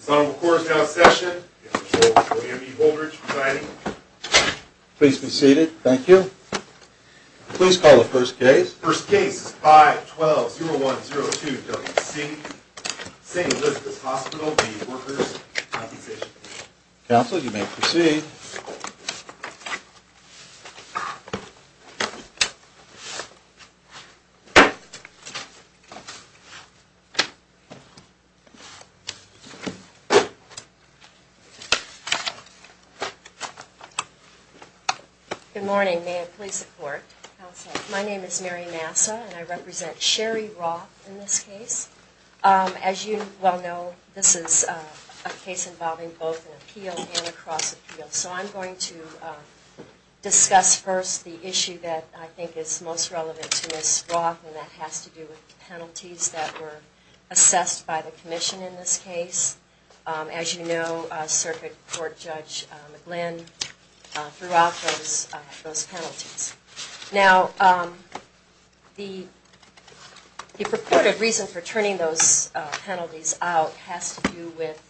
As long as the Court is now in session, I give the floor to William E. Holdridge presiding. Please be seated. Thank you. Please call the first case. First case is 512-0102-WC, St. Elizabeth's Hospital v. Workers' Compensation. Counsel, you may proceed. Good morning. May it please the Court. Counsel, my name is Mary Massa, and I represent Sherry Roth in this case. As you well know, this is a case involving both an appeal and a cross appeal. So I'm going to discuss first the issue that I think is most relevant to Ms. Roth, and that has to do with penalties that were assessed by the Commission in this case. As you know, Circuit Court Judge McGlynn threw out those penalties. Now, the purported reason for turning those penalties out has to do with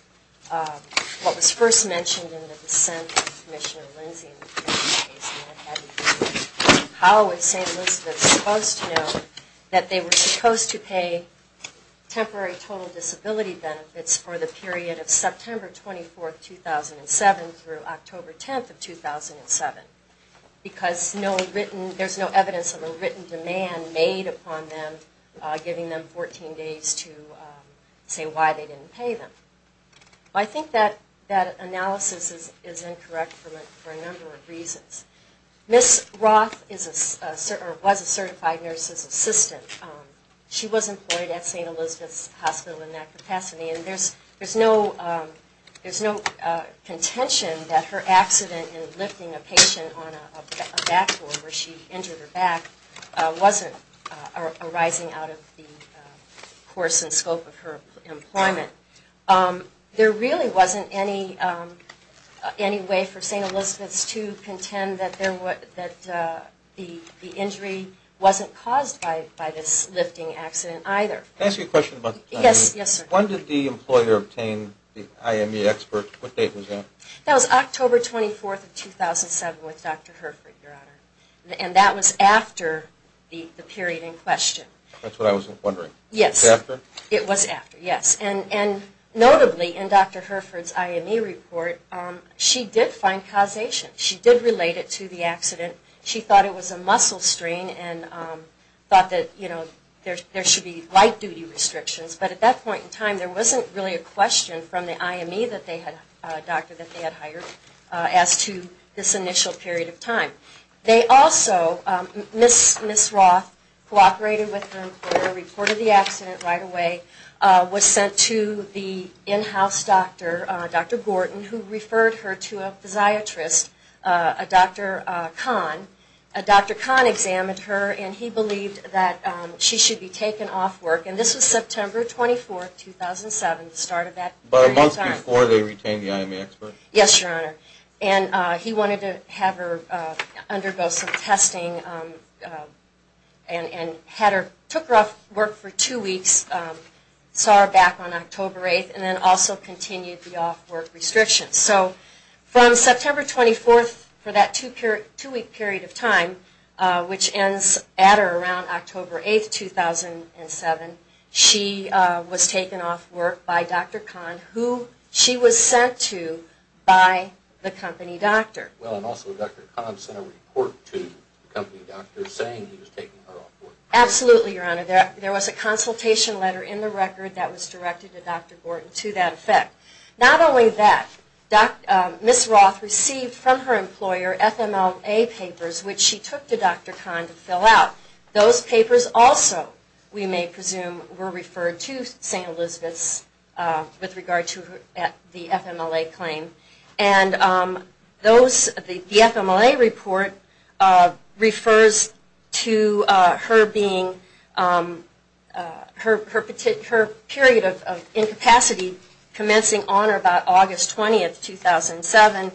what was first mentioned in the dissent of Commissioner Lindsey in the previous case. How was St. Elizabeth's supposed to know that they were supposed to pay temporary total disability benefits for the period of September 24, 2007 through October 10, 2007? Because there's no evidence of a written demand made upon them, giving them 14 days to say why they didn't pay them. I think that analysis is incorrect for a number of reasons. Ms. Roth was a certified nurse's assistant. She was employed at St. Elizabeth's Hospital in that capacity, and there's no contention that her accident in lifting a patient on a backboard where she injured her back wasn't arising out of the course and scope of her employment. There really wasn't any way for St. Elizabeth's to contend that the injury wasn't caused by this lifting accident either. Can I ask you a question? Yes, sir. When did the employer obtain the IME expert? What date was that? That was October 24, 2007 with Dr. Hereford, Your Honor. And that was after the period in question. That's what I was wondering. Yes. It was after? It was after, yes. And notably in Dr. Hereford's IME report, she did find causation. She did relate it to the accident. She thought it was a muscle strain and thought that there should be light-duty restrictions. But at that point in time, there wasn't really a question from the IME doctor that they had hired as to this initial period of time. They also, Ms. Roth cooperated with her employer, reported the accident right away, was sent to the in-house doctor, Dr. Gorton, who referred her to a physiatrist, Dr. Kahn. Dr. Kahn examined her, and he believed that she should be taken off work. And this was September 24, 2007, the start of that period of time. But a month before they retained the IME expert? Yes, Your Honor. And he wanted to have her undergo some testing and took her off work for two weeks, saw her back on October 8, and then also continued the off-work restrictions. So from September 24, for that two-week period of time, which ends at or around October 8, 2007, she was taken off work by Dr. Kahn, who she was sent to by the company doctor. Well, and also Dr. Kahn sent a report to the company doctor saying he was taking her off work. Absolutely, Your Honor. There was a consultation letter in the record that was directed to Dr. Gorton to that effect. Not only that, Ms. Roth received from her employer FMLA papers, which she took to Dr. Kahn to fill out. Those papers also, we may presume, were referred to St. Elizabeth's with regard to the FMLA claim. And those, the FMLA report, refers to her being, her period of incapacity commencing on or about August 20, 2007,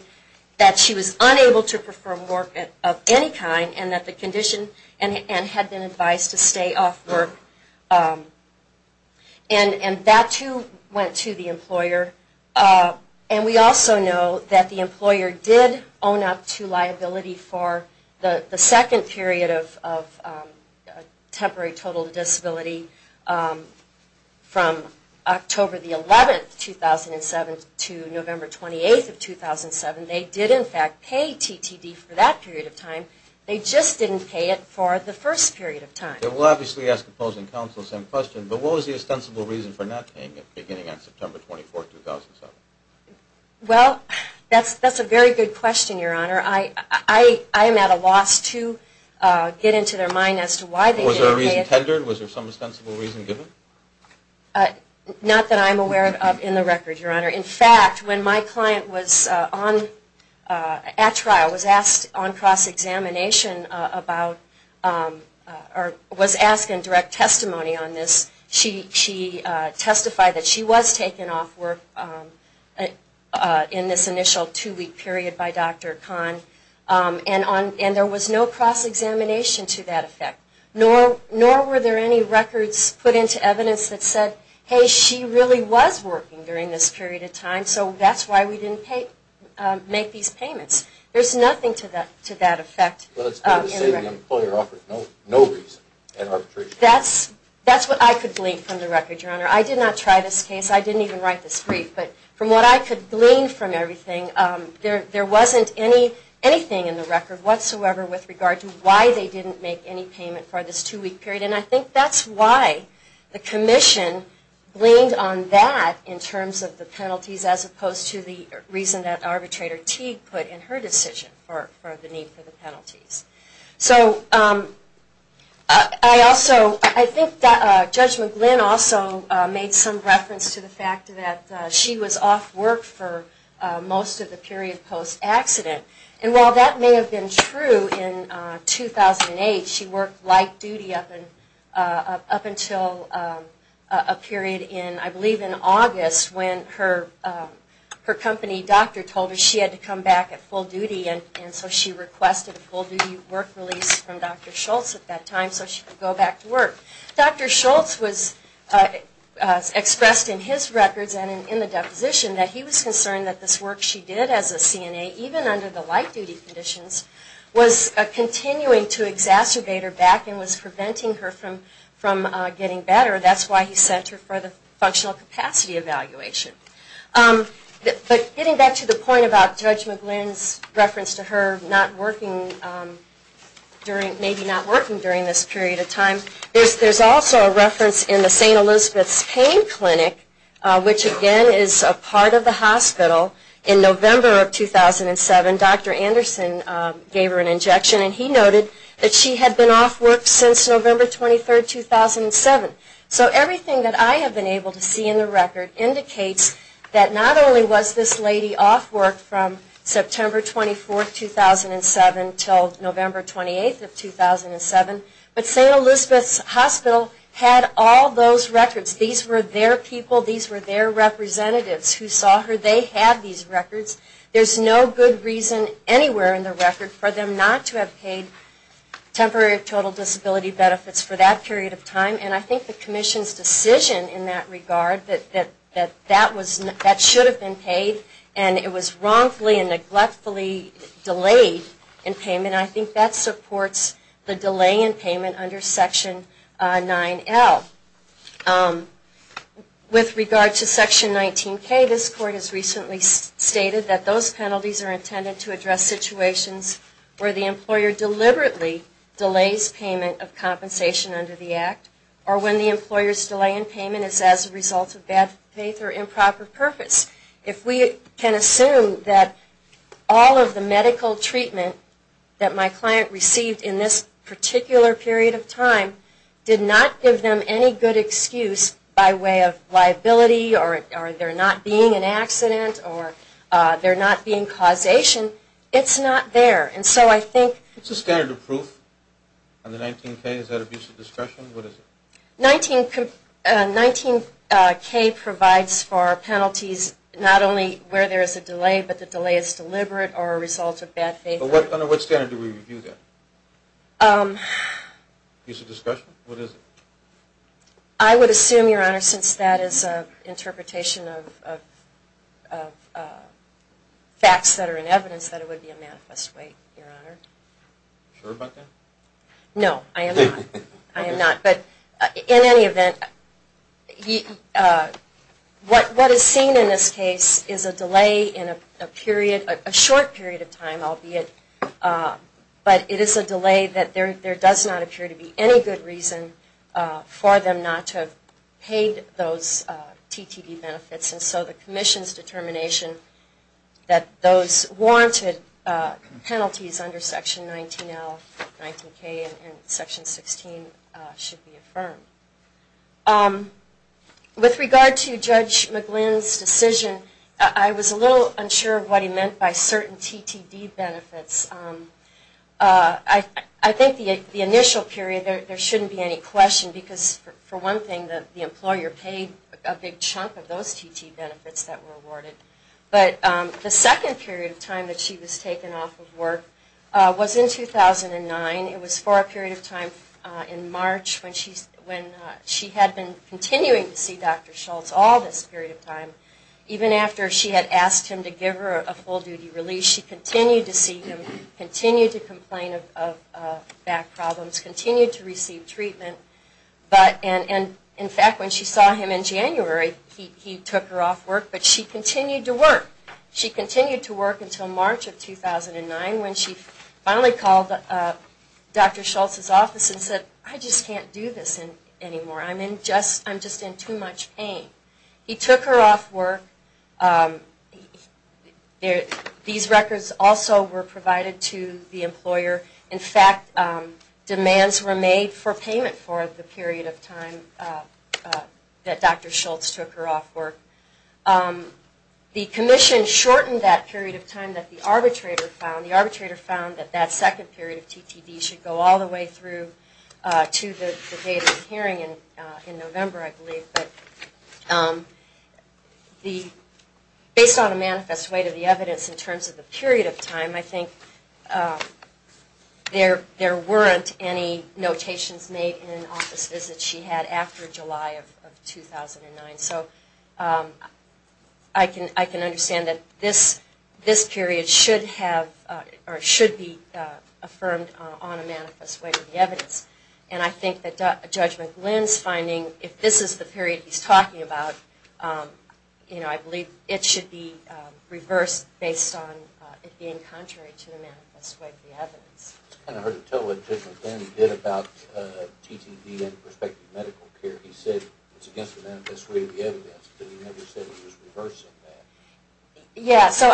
that she was unable to perform work of any kind and that the condition, and had been advised to stay off work. And that, too, went to the employer. And we also know that the employer did own up to liability for the second period of temporary total disability from October 11, 2007 to November 28, 2007. They did, in fact, pay TTD for that period of time. They just didn't pay it for the first period of time. We'll obviously ask opposing counsel the same question. But what was the ostensible reason for not paying it beginning on September 24, 2007? Well, that's a very good question, Your Honor. I am at a loss to get into their mind as to why they didn't pay it. Was there a reason tendered? Was there some ostensible reason given? Not that I'm aware of in the record, Your Honor. In fact, when my client was at trial, was asked on cross-examination about or was asked in direct testimony on this, she testified that she was taken off work in this initial two-week period by Dr. Kahn. And there was no cross-examination to that effect. Nor were there any records put into evidence that said, hey, she really was working during this period of time, so that's why we didn't make these payments. There's nothing to that effect. Well, it's fair to say the employer offered no reason in arbitration. That's what I could glean from the record, Your Honor. I did not try this case. I didn't even write this brief. But from what I could glean from everything, there wasn't anything in the record whatsoever with regard to why they didn't make any payment for this two-week period. And I think that's why the Commission gleaned on that in terms of the penalties, as opposed to the reason that Arbitrator Teague put in her decision for the need for the penalties. So I think Judge McGlynn also made some reference to the fact that she was off work for most of the period post-accident. And while that may have been true in 2008, she worked light duty up until a period in, I believe, in August when her company doctor told her she had to come back at full duty. And so she requested a full-duty work release from Dr. Schultz at that time so she could go back to work. Dr. Schultz expressed in his records and in the deposition that he was concerned that this work she did as a CNA, even under the light-duty conditions, was continuing to exacerbate her back and was preventing her from getting better. That's why he sent her for the functional capacity evaluation. But getting back to the point about Judge McGlynn's reference to her not working during, maybe not working during this period of time, there's also a reference in the St. Elizabeth's Pain Clinic, which again is a part of the hospital, in November of 2007, Dr. Anderson gave her an injection and he noted that she had been off work since November 23, 2007. So everything that I have been able to see in the record indicates that not only was this lady off work from September 24, 2007 until November 28, 2007, but St. Elizabeth's Hospital had all those records. These were their people, these were their representatives who saw her, they had these records. There's no good reason anywhere in the record for them not to have paid temporary total disability benefits for that period of time and I think the Commission's decision in that regard that that should have been paid and it was wrongfully and neglectfully delayed in payment, I think that supports the delay in payment under Section 9L. With regard to Section 19K, this Court has recently stated that those penalties are intended to address situations where the employer deliberately delays payment of compensation under the Act or when the employer's delay in payment is as a result of bad faith or improper purpose. If we can assume that all of the medical treatment that my client received in this particular period of time did not give them any good excuse by way of liability or there not being an accident or there not being causation, it's not there. It's a standard of proof under 19K, is that abuse of discretion? 19K provides for penalties not only where there is a delay, but the delay is deliberate or a result of bad faith. Under what standard do we review that? Abuse of discretion? What is it? I would assume, Your Honor, since that is an interpretation of facts that are in evidence, that it would be a manifest wait, Your Honor. Are you sure about that? No, I am not. But in any event, what is seen in this case is a delay in a period, a short period of time, albeit, but it is a delay that there does not appear to be any good reason for them not to have paid those TTD benefits. And so the Commission's determination that those warranted penalties under Section 19L, 19K, and Section 16 should be affirmed. With regard to Judge McGlynn's decision, I was a little unsure of what he meant by certain TTD benefits. I think the initial period, there shouldn't be any question because, for one thing, the employer paid a big chunk of those TTD benefits that were awarded. But the second period of time that she was taken off of work was in 2009. It was for a period of time in March when she had been continuing to see Dr. Schultz all this period of time. Even after she had asked him to give her a full-duty release, she continued to see him, continued to complain of back problems, continued to receive treatment. And in fact, when she saw him in January, he took her off work, but she continued to work. She continued to work until March of 2009 when she finally called Dr. Schultz's office and said, I just can't do this anymore. I'm just in too much pain. He took her off work. These records also were provided to the employer. In fact, demands were made for payment for the period of time that Dr. Schultz took her off work. The commission shortened that period of time that the arbitrator found. That second period of TTD should go all the way through to the date of the hearing in November, I believe. But based on a manifest way to the evidence in terms of the period of time, I think there weren't any notations made in an office visit she had after July of 2009. So I can understand that this period should be affirmed on a manifest way to the evidence. And I think that Judge McGlynn's finding, if this is the period he's talking about, I believe it should be reversed based on it being contrary to the manifest way to the evidence. I kind of heard him tell what Judge McGlynn did about TTD and prospective medical care. He said it's against the manifest way to the evidence, but he never said he was reversing that. Yeah, so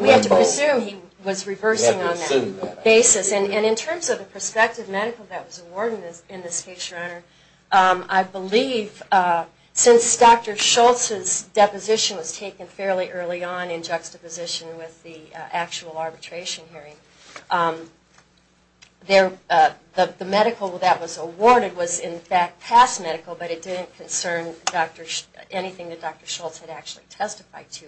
we have to presume he was reversing on that basis. And in terms of the prospective medical that was awarded in this case, Your Honor, I believe since Dr. Schultz's deposition was taken fairly early on in juxtaposition with the actual arbitration hearing, the medical that was awarded was in fact past medical, but it didn't concern anything that Dr. Schultz had actually testified to.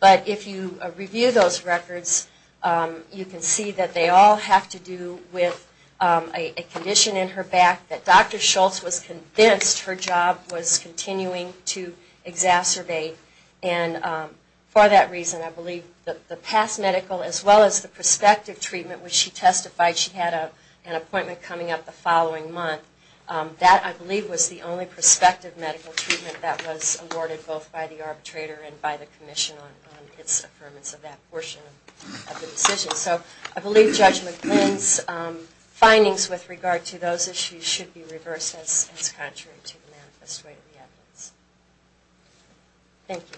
But if you review those records, you can see that they all have to do with a condition in her back that Dr. Schultz was convinced her job was continuing to exacerbate. And for that reason, I believe the past medical as well as the prospective treatment, which she testified she had an appointment coming up the following month, that I believe was the only prospective medical treatment that was awarded both by the arbitrator and by the commission on its affirmance of that portion of the decision. So I believe Judge McGlynn's findings with regard to those issues should be reversed as contrary to the manifest way of the evidence. Thank you.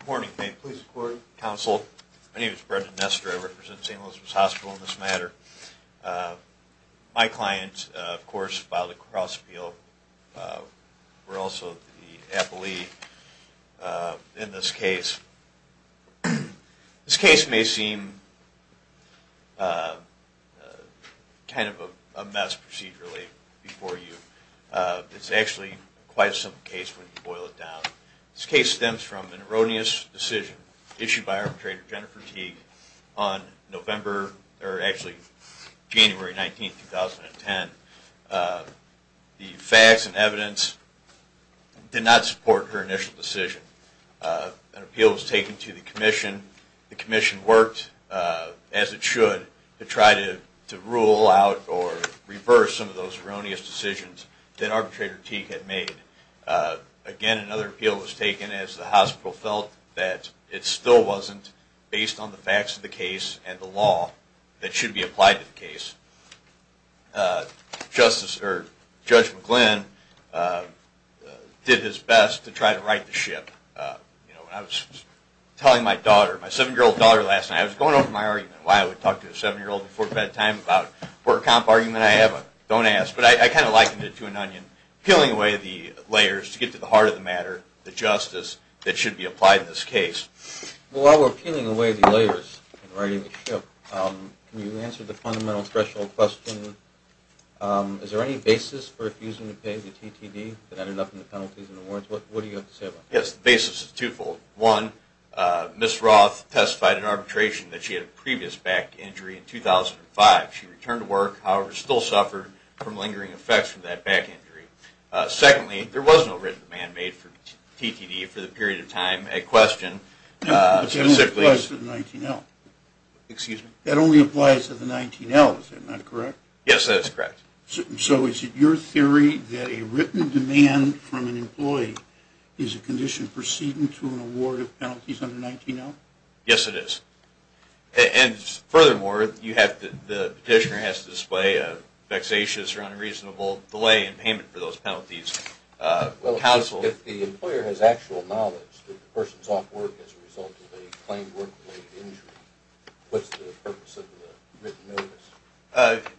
Good morning. May it please the Court, Counsel. My name is Brendan Nestor. I represent St. Elizabeth's Hospital in this matter. My client, of course, filed a cross appeal. We're also the appellee in this case. This case may seem kind of a mess procedurally before you. It's actually quite a simple case when you boil it down. This case stems from an erroneous decision issued by arbitrator Jennifer Teague on November, or actually January 19, 2010. The facts and evidence did not support her initial decision. An appeal was taken to the commission. The commission worked as it should to try to rule out or reverse some of those erroneous decisions that arbitrator Teague had made. Again, another appeal was taken as the hospital felt that it still wasn't based on the facts of the case and the law that should be applied to the case. Judge McGlynn did his best to try to right the ship. I was telling my daughter, my 7-year-old daughter last night, I was going over my argument why I would talk to a 7-year-old before bedtime about a work comp argument I have. Don't ask, but I kind of likened it to an onion, peeling away the layers to get to the heart of the matter, the justice that should be applied in this case. While we're peeling away the layers and righting the ship, can you answer the fundamental threshold question? Is there any basis for refusing to pay the TTD that ended up in the penalties and the warrants? What do you have to say about that? Yes, the basis is twofold. One, Ms. Roth testified in arbitration that she had a previous back injury in 2005. She returned to work, however, still suffered from lingering effects from that back injury. Secondly, there was no written demand made for TTD for the period of time at question. That only applies to the 19L, is that not correct? Yes, that is correct. So is it your theory that a written demand from an employee is a condition proceeding to an award of penalties under 19L? Yes, it is. And furthermore, the petitioner has to display a vexatious or unreasonable delay in payment for those penalties. If the employer has actual knowledge that the person is off work as a result of a claimed work-related injury, what is the purpose of the written notice?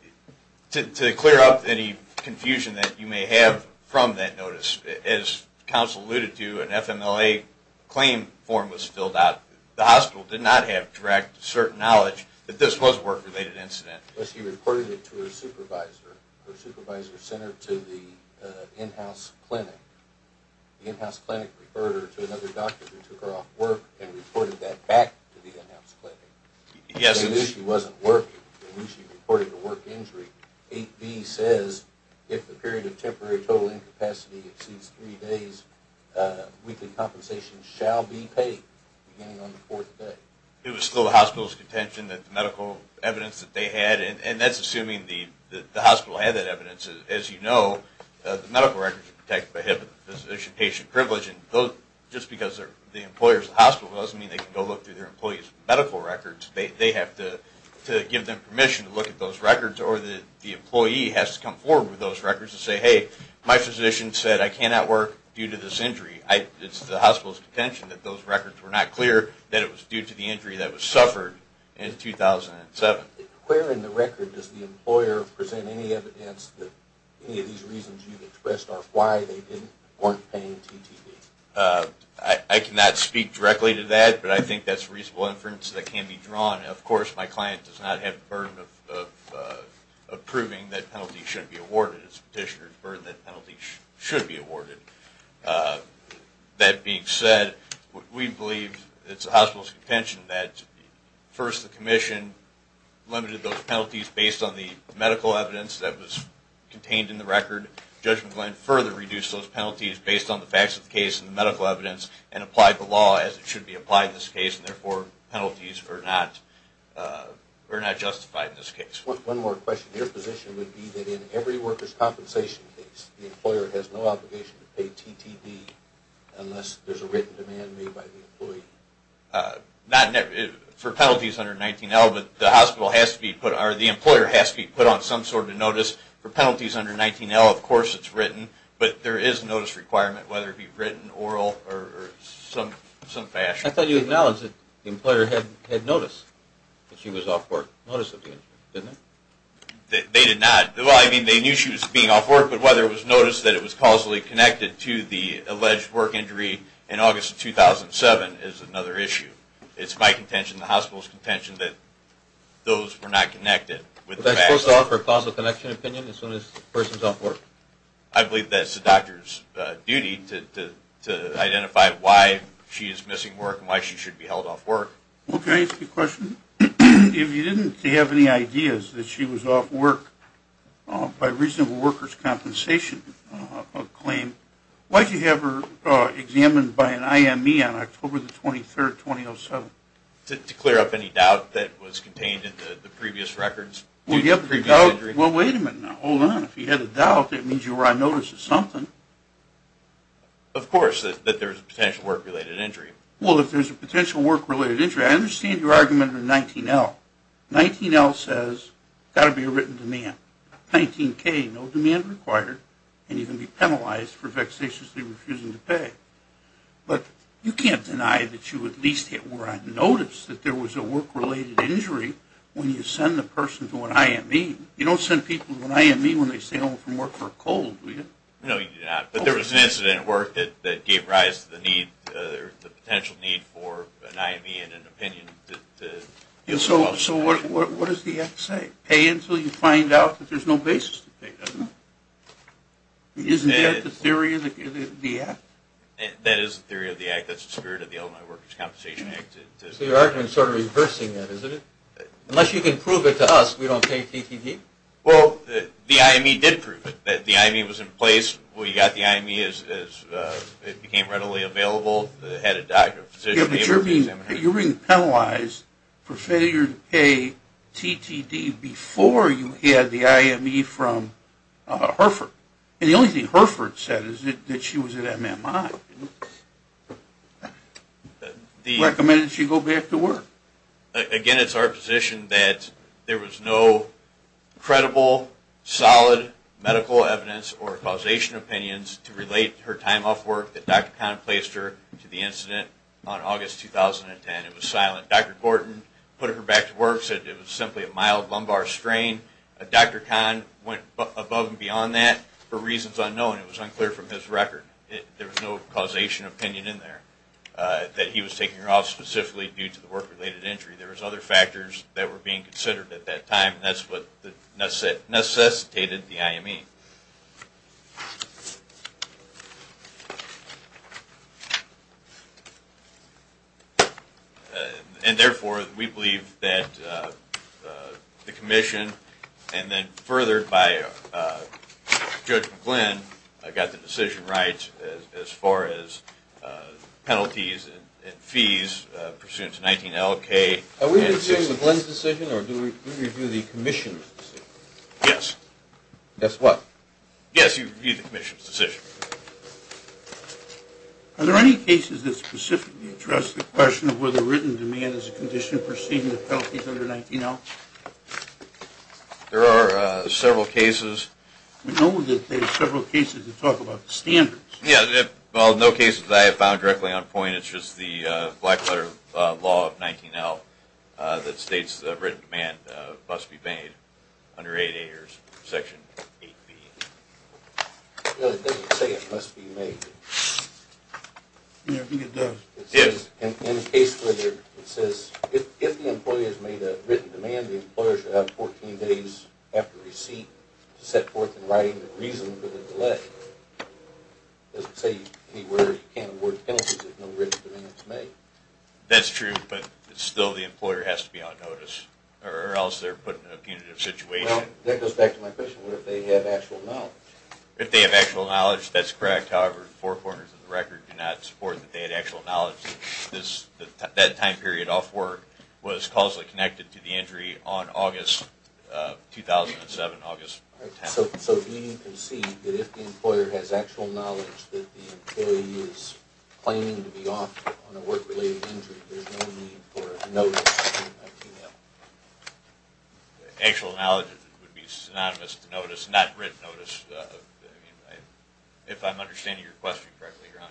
To clear up any confusion that you may have from that notice, as counsel alluded to, an FMLA claim form was filled out. The hospital did not have direct, certain knowledge that this was a work-related incident. But she reported it to her supervisor, her supervisor sent her to the in-house clinic. The in-house clinic referred her to another doctor who took her off work and reported that back to the in-house clinic. Yes. When she wasn't working, when she reported a work injury, 8B says, if the period of temporary total incapacity exceeds three days, weekly compensation shall be paid beginning on the fourth day. It was still the hospital's contention that the medical evidence that they had, and that's assuming the hospital had that evidence. As you know, the medical records are protected by HIPAA, Physician-Patient Privilege, and just because they're the employers of the hospital doesn't mean they can go look through their employees' medical records. They have to give them permission to look at those records, or the employee has to come forward with those records and say, hey, my physician said I cannot work due to this injury. It's the hospital's contention that those records were not clear that it was due to the injury that was suffered in 2007. Where in the record does the employer present any evidence that any of these reasons you've expressed are why they weren't paying TTV? I cannot speak directly to that, but I think that's reasonable inference that can be drawn. Of course, my client does not have the burden of proving that penalty should be awarded. It's the petitioner's burden that penalty should be awarded. That being said, we believe it's the hospital's contention that first the commission limited those penalties based on the medical evidence that was contained in the record. Judge McGlynn further reduced those penalties based on the facts of the case and the medical evidence and applied the law as it should be applied in this case, and therefore penalties are not justified in this case. One more question. Your position would be that in every workers' compensation case, the employer has no obligation to pay TTV unless there's a written demand made by the employee? For penalties under 19L, the employer has to be put on some sort of notice. For penalties under 19L, of course it's written, but there is a notice requirement, whether it be written, oral, or some fashion. I thought you acknowledged that the employer had noticed that she was off work. They did not. They knew she was being off work, but whether it was noticed that it was causally connected to the alleged work injury in August of 2007 is another issue. It's my contention, the hospital's contention, that those were not connected. Is that supposed to offer a causal connection opinion as soon as the person is off work? I believe that's the doctor's duty to identify why she is missing work and why she should be held off work. If you didn't have any ideas that she was off work by reasonable workers' compensation claim, why did you have her examined by an IME on October 23, 2007? To clear up any doubt that was contained in the previous records. Well, wait a minute now. Hold on. If you had a doubt, that means you were on notice of something. Of course, that there was a potential work-related injury. Well, if there's a potential work-related injury, I understand your argument under 19L. 19L says there has to be a written demand. 19K, no demand required, and you can be penalized for vexatiously refusing to pay. But you can't deny that you at least were on notice that there was a work-related injury when you send the person to an IME. You don't send people to an IME when they stay home from work for a cold, do you? No, you do not. But there was an incident at work that gave rise to the potential need for an IME and an opinion. So what does the Act say? Pay until you find out that there's no basis to pay, doesn't it? Isn't that the theory of the Act? That is the theory of the Act. That's the spirit of the Illinois Workers' Compensation Act. So your argument is sort of reversing that, isn't it? Unless you can prove it to us, we don't pay TTD? Well, the IME did prove it. The IME was in place. We got the IME as it became readily available. You're being penalized for failure to pay TTD before you had the IME from Herford. And the only thing Herford said is that she was at MMI. Recommended she go back to work. Again, it's our position that there was no credible, solid medical evidence or causation opinions to relate her time off work that Dr. Kahn placed her to the incident on August 2010. It was silent. Dr. Gordon put her back to work, said it was simply a mild lumbar strain. Dr. Kahn went above and beyond that for reasons unknown. It was unclear from his record. There was no causation opinion in there that he was taking her off specifically due to the work-related injury. There was other factors that were being considered at that time. That's what necessitated the IME. And therefore, we believe that the Commission and then further by Judge McGlynn got the decision right as far as penalties and fees pursuant to 19L. Are we reviewing McGlynn's decision or do we review the Commission's decision? Yes. Guess what? Yes, you review the Commission's decision. Are there any cases that specifically address the question of whether written demand is a condition for seeing the penalties under 19L? There are several cases. We know that there are several cases that talk about the standards. Yeah, well, no cases that I have found directly on point. It's just the black letter law of 19L that states that written demand must be made under 8A or Section 8B. No, it doesn't say it must be made. I don't think it does. In the case where it says, if the employee has made a written demand, the employer should have 14 days after receipt to set forth in writing the reason for the delay. It doesn't say anywhere you can't award penalties if no written demand is made. That's true, but still the employer has to be on notice or else they're put in a punitive situation. If they have actual knowledge, that's correct. However, four corners of the record do not support that they had actual knowledge that that time period off work was causally connected to the injury on August 10, 2007. So we can see that if the employer has actual knowledge that the employee is claiming to be off on a work-related injury, there's no need for a notice to 19L. Actual knowledge would be synonymous to notice, not written notice, if I'm understanding your question correctly, Your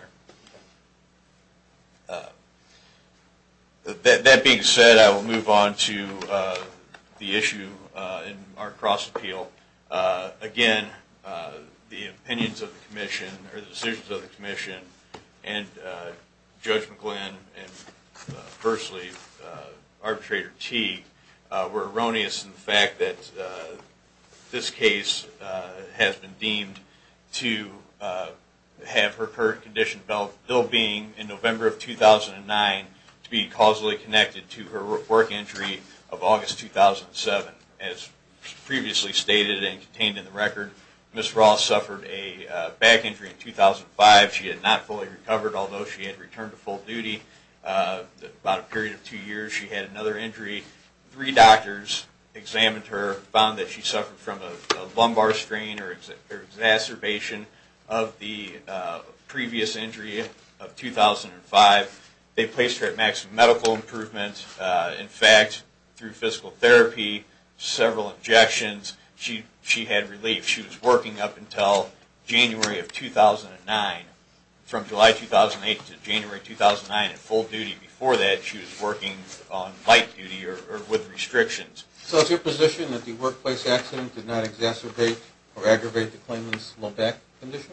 Honor. That being said, I will move on to the issue in our cross-appeal. Again, the decisions of the Commission and Judge McGlynn and, firstly, Arbitrator Teague were erroneous in the fact that this case has been deemed to have her current condition still being in November of 2009 to be causally connected to her work injury of August 2007. As previously stated and contained in the record, Ms. Ross suffered a back injury in 2005. She had not fully recovered, although she had returned to full duty. About a period of two years, she had another injury. Three doctors examined her, found that she suffered from a lumbar strain or exacerbation of the previous injury of 2009. Through physical therapy, several injections, she had relief. She was working up until January of 2009. From July 2008 to January 2009, in full duty. Before that, she was working on light duty or with restrictions. So is your position that the workplace accident did not exacerbate or aggravate the claimant's low back condition?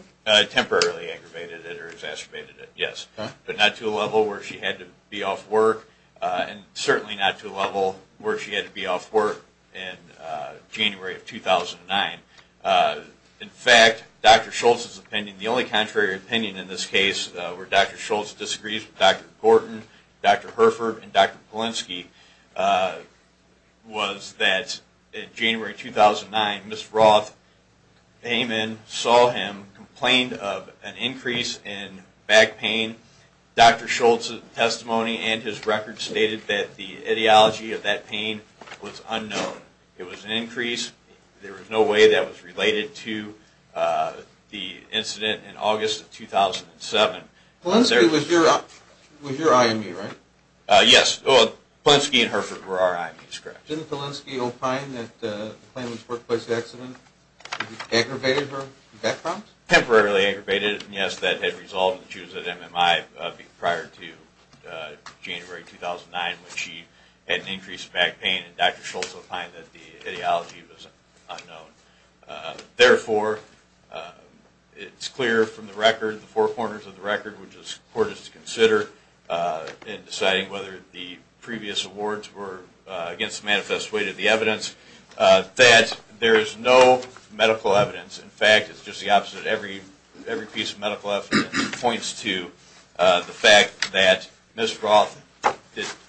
Temporarily aggravated it or exacerbated it, yes. But not to a level where she had to be off work and certainly not to a level where she had to be off work in January of 2009. In fact, Dr. Schultz's opinion, the only contrary opinion in this case where Dr. Schultz disagrees with Dr. Gorton, Dr. Herford, and Dr. Polinsky was that in January 2009, Ms. Ross came in, saw him, complained of an increase in back pain. Dr. Schultz's testimony and his record stated that the ideology of that pain was unknown. It was an increase. There was no way that was related to the incident in August of 2007. Polinsky was your IME, right? Yes. Polinsky and Herford were our IMEs, correct. Didn't Polinsky opine that the claimant's workplace accident aggravated her back problems? Temporarily aggravated it, yes. That had resolved when she was at MMI prior to January 2009 when she had an increase in back pain. Dr. Schultz opined that the ideology was unknown. Therefore, it's clear from the record, the four corners of the record, which is important to consider in deciding whether the previous awards were against the manifest weight of the evidence, that there is no medical evidence. In fact, it's just the opposite. Every piece of medical evidence points to the fact that Ms. Ross'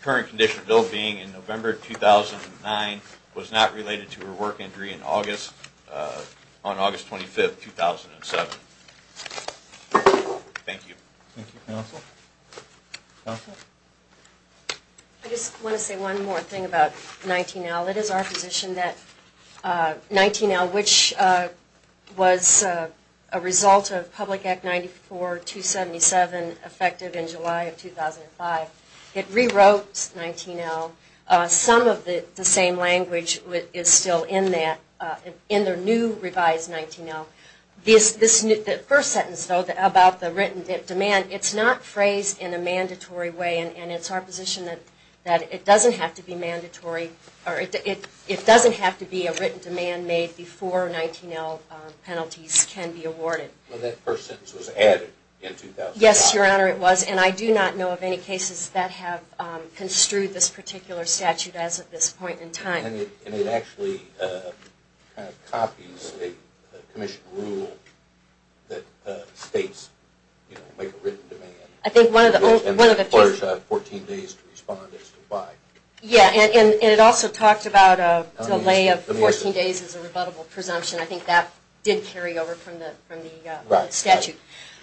current condition of ill-being in November 2009 was not related to her work injury on August 25, 2007. Thank you. Thank you, counsel. I just want to say one more thing about 19L. It is our position that 19L, which was a result of Public Act 94-277 effective in July of 2005, it rewrote 19L. Some of the same language is still in the new revised 19L. The first sentence, though, about the written demand, it's not phrased in a mandatory way, and it's our position that it doesn't have to be a written demand made before 19L penalties can be awarded. Well, that first sentence was added in 2005. Yes, Your Honor, it was, and I do not know of any cases that have construed this particular statute as at this point in time. And it actually copies a commission rule that states, you know, make a written demand. I think one of the... 14 days to respond as to why. Yeah, and it also talked about a delay of 14 days as a rebuttable presumption. I think that did carry over from the statute.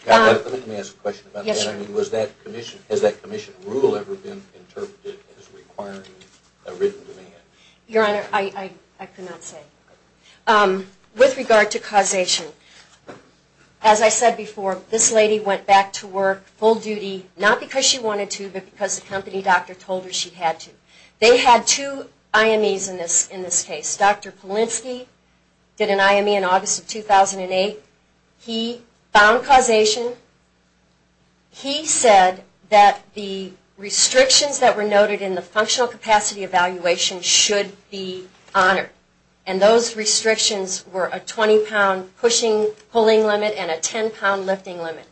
Let me ask a question about that. Has that commission rule ever been interpreted as requiring a written demand? Your Honor, I could not say. With regard to causation, as I said before, this lady went back to work full duty, not because she wanted to, but because the company doctor told her she had to. They had two IMEs in this case. Dr. Polinsky did an IME in August of 2008. He found causation. He said that the restrictions that were noted in the functional capacity evaluation should be honored. And those restrictions were a 20 pound pushing, pulling limit and a 10 pound lifting limit.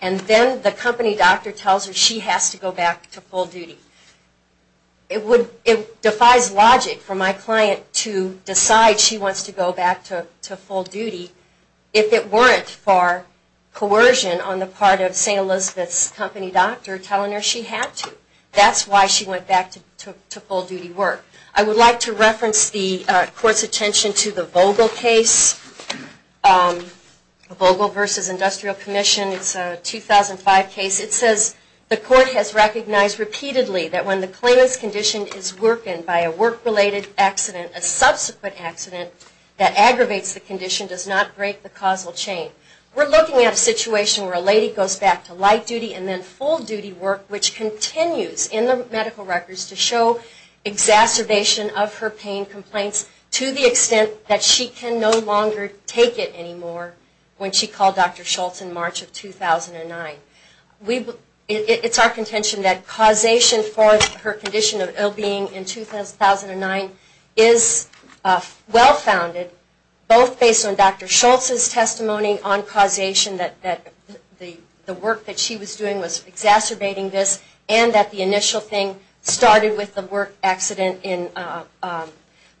And then the company doctor tells her she has to go back to full duty. It defies logic for my client to decide she wants to go back to full duty if it weren't for coercion on the part of St. Elizabeth's company doctor telling her she had to. That's why she went back to full duty work. I would like to reference the Court's attention to the Vogel case, Vogel v. Industrial Commission. It's a case that is recognized repeatedly that when the claimant's condition is workened by a work-related accident, a subsequent accident that aggravates the condition does not break the causal chain. We're looking at a situation where a lady goes back to light duty and then full duty work, which continues in the medical records to show exacerbation of her pain complaints to the extent that she can no longer take it anymore when she called Dr. Schultz in March of 2009. It's our contention that causation for her condition of ill-being in 2009 is well-founded, both based on Dr. Schultz's testimony on causation that the work that she was doing was exacerbating this and that the initial thing started with the work accident in March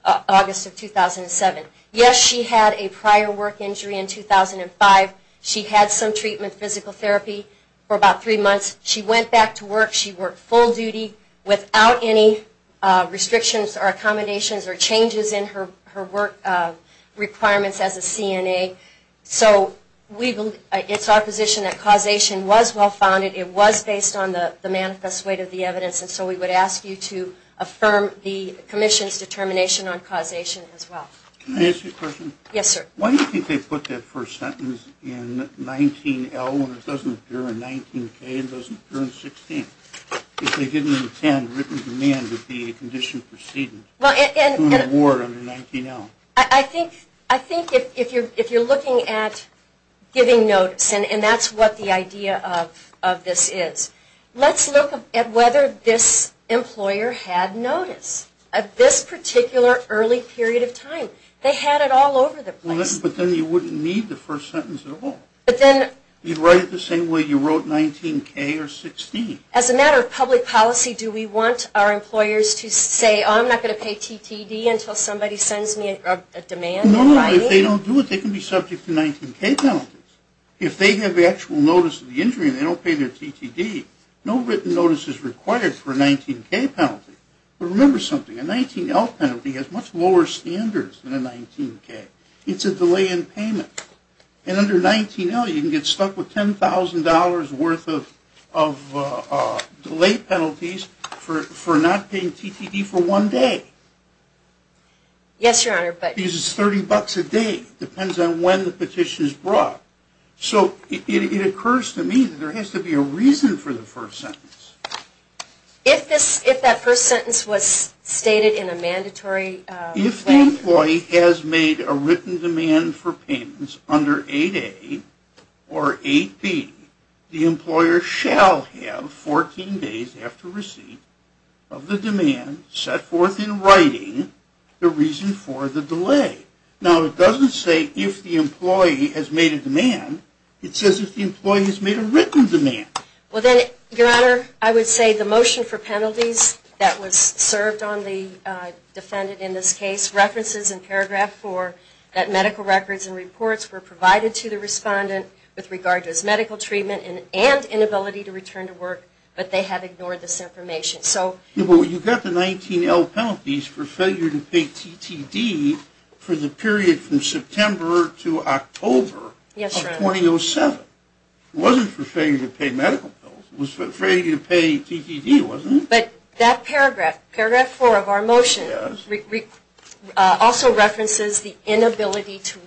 of 2007. Yes, she had a prior work injury in 2005. She had some treatment, physical therapy, for about three months. She went back to work. She worked full duty without any restrictions or accommodations or changes in her work requirements as a CNA. So it's our position that causation was well-founded. It was based on the manifest weight of the evidence, and so we would ask you to affirm the Commission's determination on causation as well. Can I ask you a question? Yes, sir. Why do you think they put that first sentence in 19-L when it doesn't appear in 19-K, it doesn't appear in 16? If they didn't intend written demand to be a condition proceeding to an award under 19-L? I think if you're looking at giving notice, and that's what the idea of this is, let's look at whether this employer had notice at this particular early period of time. They had it all over the place. But then you wouldn't need the first sentence at all. But then you'd write it the same way you wrote 19-K or 16. As a matter of public policy, do we want our employers to say, oh, I'm not going to pay TTD until somebody sends me a demand? No, if they don't do it, they can be subject to 19-K penalties. If they have actual notice of the injury and they don't pay their TTD, no written notice is required for a 19-K penalty. But remember something, a 19-L penalty has much lower standards than a 19-K. It's a delay in payment. And under 19-L, you can get stuck with $10,000 worth of delay penalties for not paying TTD for one day. Yes, Your Honor, but... Because it's $30 a day. It depends on when the petition is brought. So it occurs to me that there has to be a reason for the first sentence. If that first sentence was stated in a mandatory way... If the employee has made a written demand for payments under 8-A or 8-B, the employer shall have 14 days after receipt of the demand set forth in writing the reason for the delay. Now it doesn't say if the employee has made a demand. It says if the employee has made a written demand. Your Honor, I would say the motion for penalties that was served on the defendant in this case, references in paragraph 4 that medical records and reports were provided to the respondent with regard to his medical treatment and inability to return to work, but they have ignored this information. You got the 19-L penalties for failure to pay TTD for the period from September to October of 2007. It wasn't for failure to pay medical bills. It was for failure to pay TTD, wasn't it? But that paragraph, paragraph 4 of our motion, also references the inability to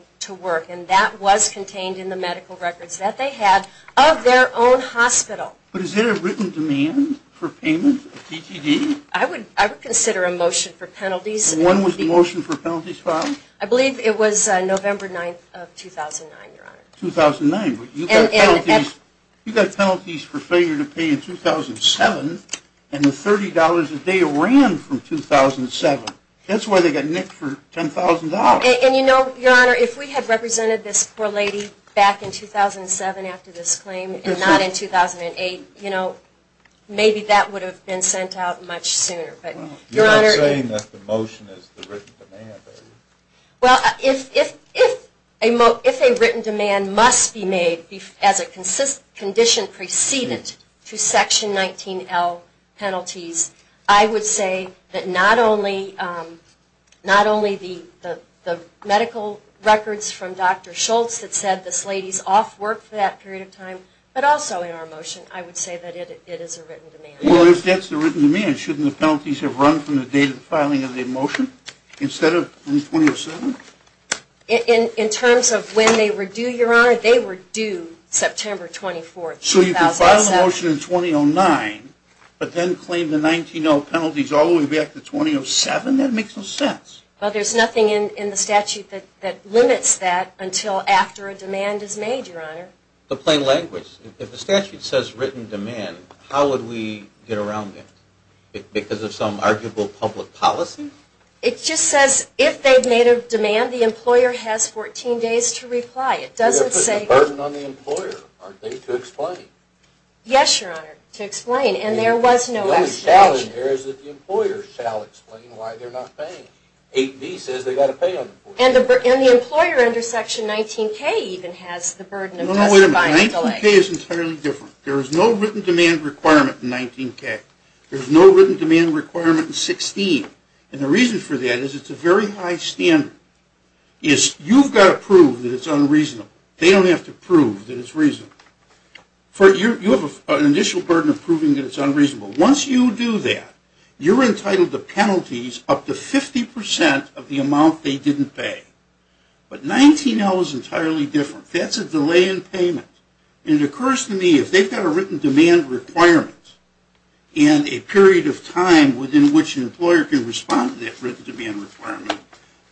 work, and that was contained in the medical records that they had of their own hospital. But is there a written demand for payment of TTD? I would consider a motion for penalties. And when was the motion for penalties filed? I believe it was November 9, 2009, Your Honor. 2009. You got penalties for failure to pay in 2007, and the $30 a day ran from 2007. That's why they got nicked for $10,000. And you know, Your Honor, if we had represented this poor lady back in 2007 after this claim and not in 2008, you know, maybe that would have been sent out much sooner. You're not saying that the motion is the written demand, are you? Well, if a written demand must be made as a condition preceded to Section 19L penalties, I would say that not only the medical records from Dr. Schultz that said this lady's off work for that period of time, but also in our motion, I would say that it is a written demand. Well, if that's the written demand, shouldn't the penalties have run from the date of the filing of the motion instead of in 2007? In terms of when they were due, Your Honor, they were due September 24, 2007. So you can file a motion in 2009, but then claim the 19L penalties all the way back to 2007? That makes no sense. Well, there's nothing in the statute that limits that until after a demand is made, Your Honor. The plain language. If the statute says written demand, how would we get around that? Because of some arguable public policy? It just says if they've made a demand, the employer has 14 days to reply. You're putting a burden on the employer, aren't they, to explain? Yes, Your Honor, to explain, and there was no explanation. The only challenge there is that the employer shall explain why they're not paying. And the employer under Section 19K even has the burden of justifying the delay. 19K is entirely different. There is no written demand requirement in 19K. There's no written demand requirement in 16, and the reason for that is it's a very high standard. You've got to prove that it's unreasonable. They don't have to prove that it's reasonable. You have an initial burden of proving that it's unreasonable. Once you do that, you're entitled to penalties up to 50% of the amount they didn't pay. But 19L is entirely different. That's a delay in payment. And it occurs to me if they've got a written demand requirement and a period of time within which an employer can respond to that written demand requirement,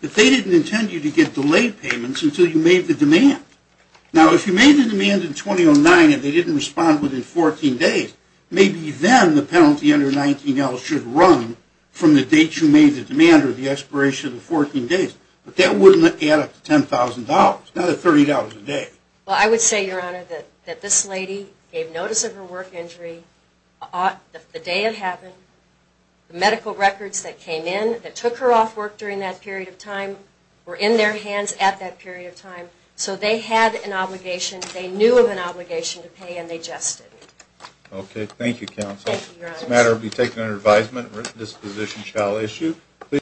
that they didn't intend you to get delayed payments until you made the demand. Now, if you made the demand in 2009 and they didn't respond within 14 days, maybe then the penalty under 19L should run from the date you made the demand or the expiration of the 14 days. But that wouldn't add up to $10,000, not $30 a day. Well, I would say, Your Honor, that this lady gave notice of her work injury the day it happened, the medical records that came in that took her off work during that period of time were in their hands at that period of time. So they had an obligation, they knew of an obligation to pay, and they just didn't. Okay. Thank you, Counsel. Thank you, Your Honor. This matter will be taken under advisement. This position shall issue.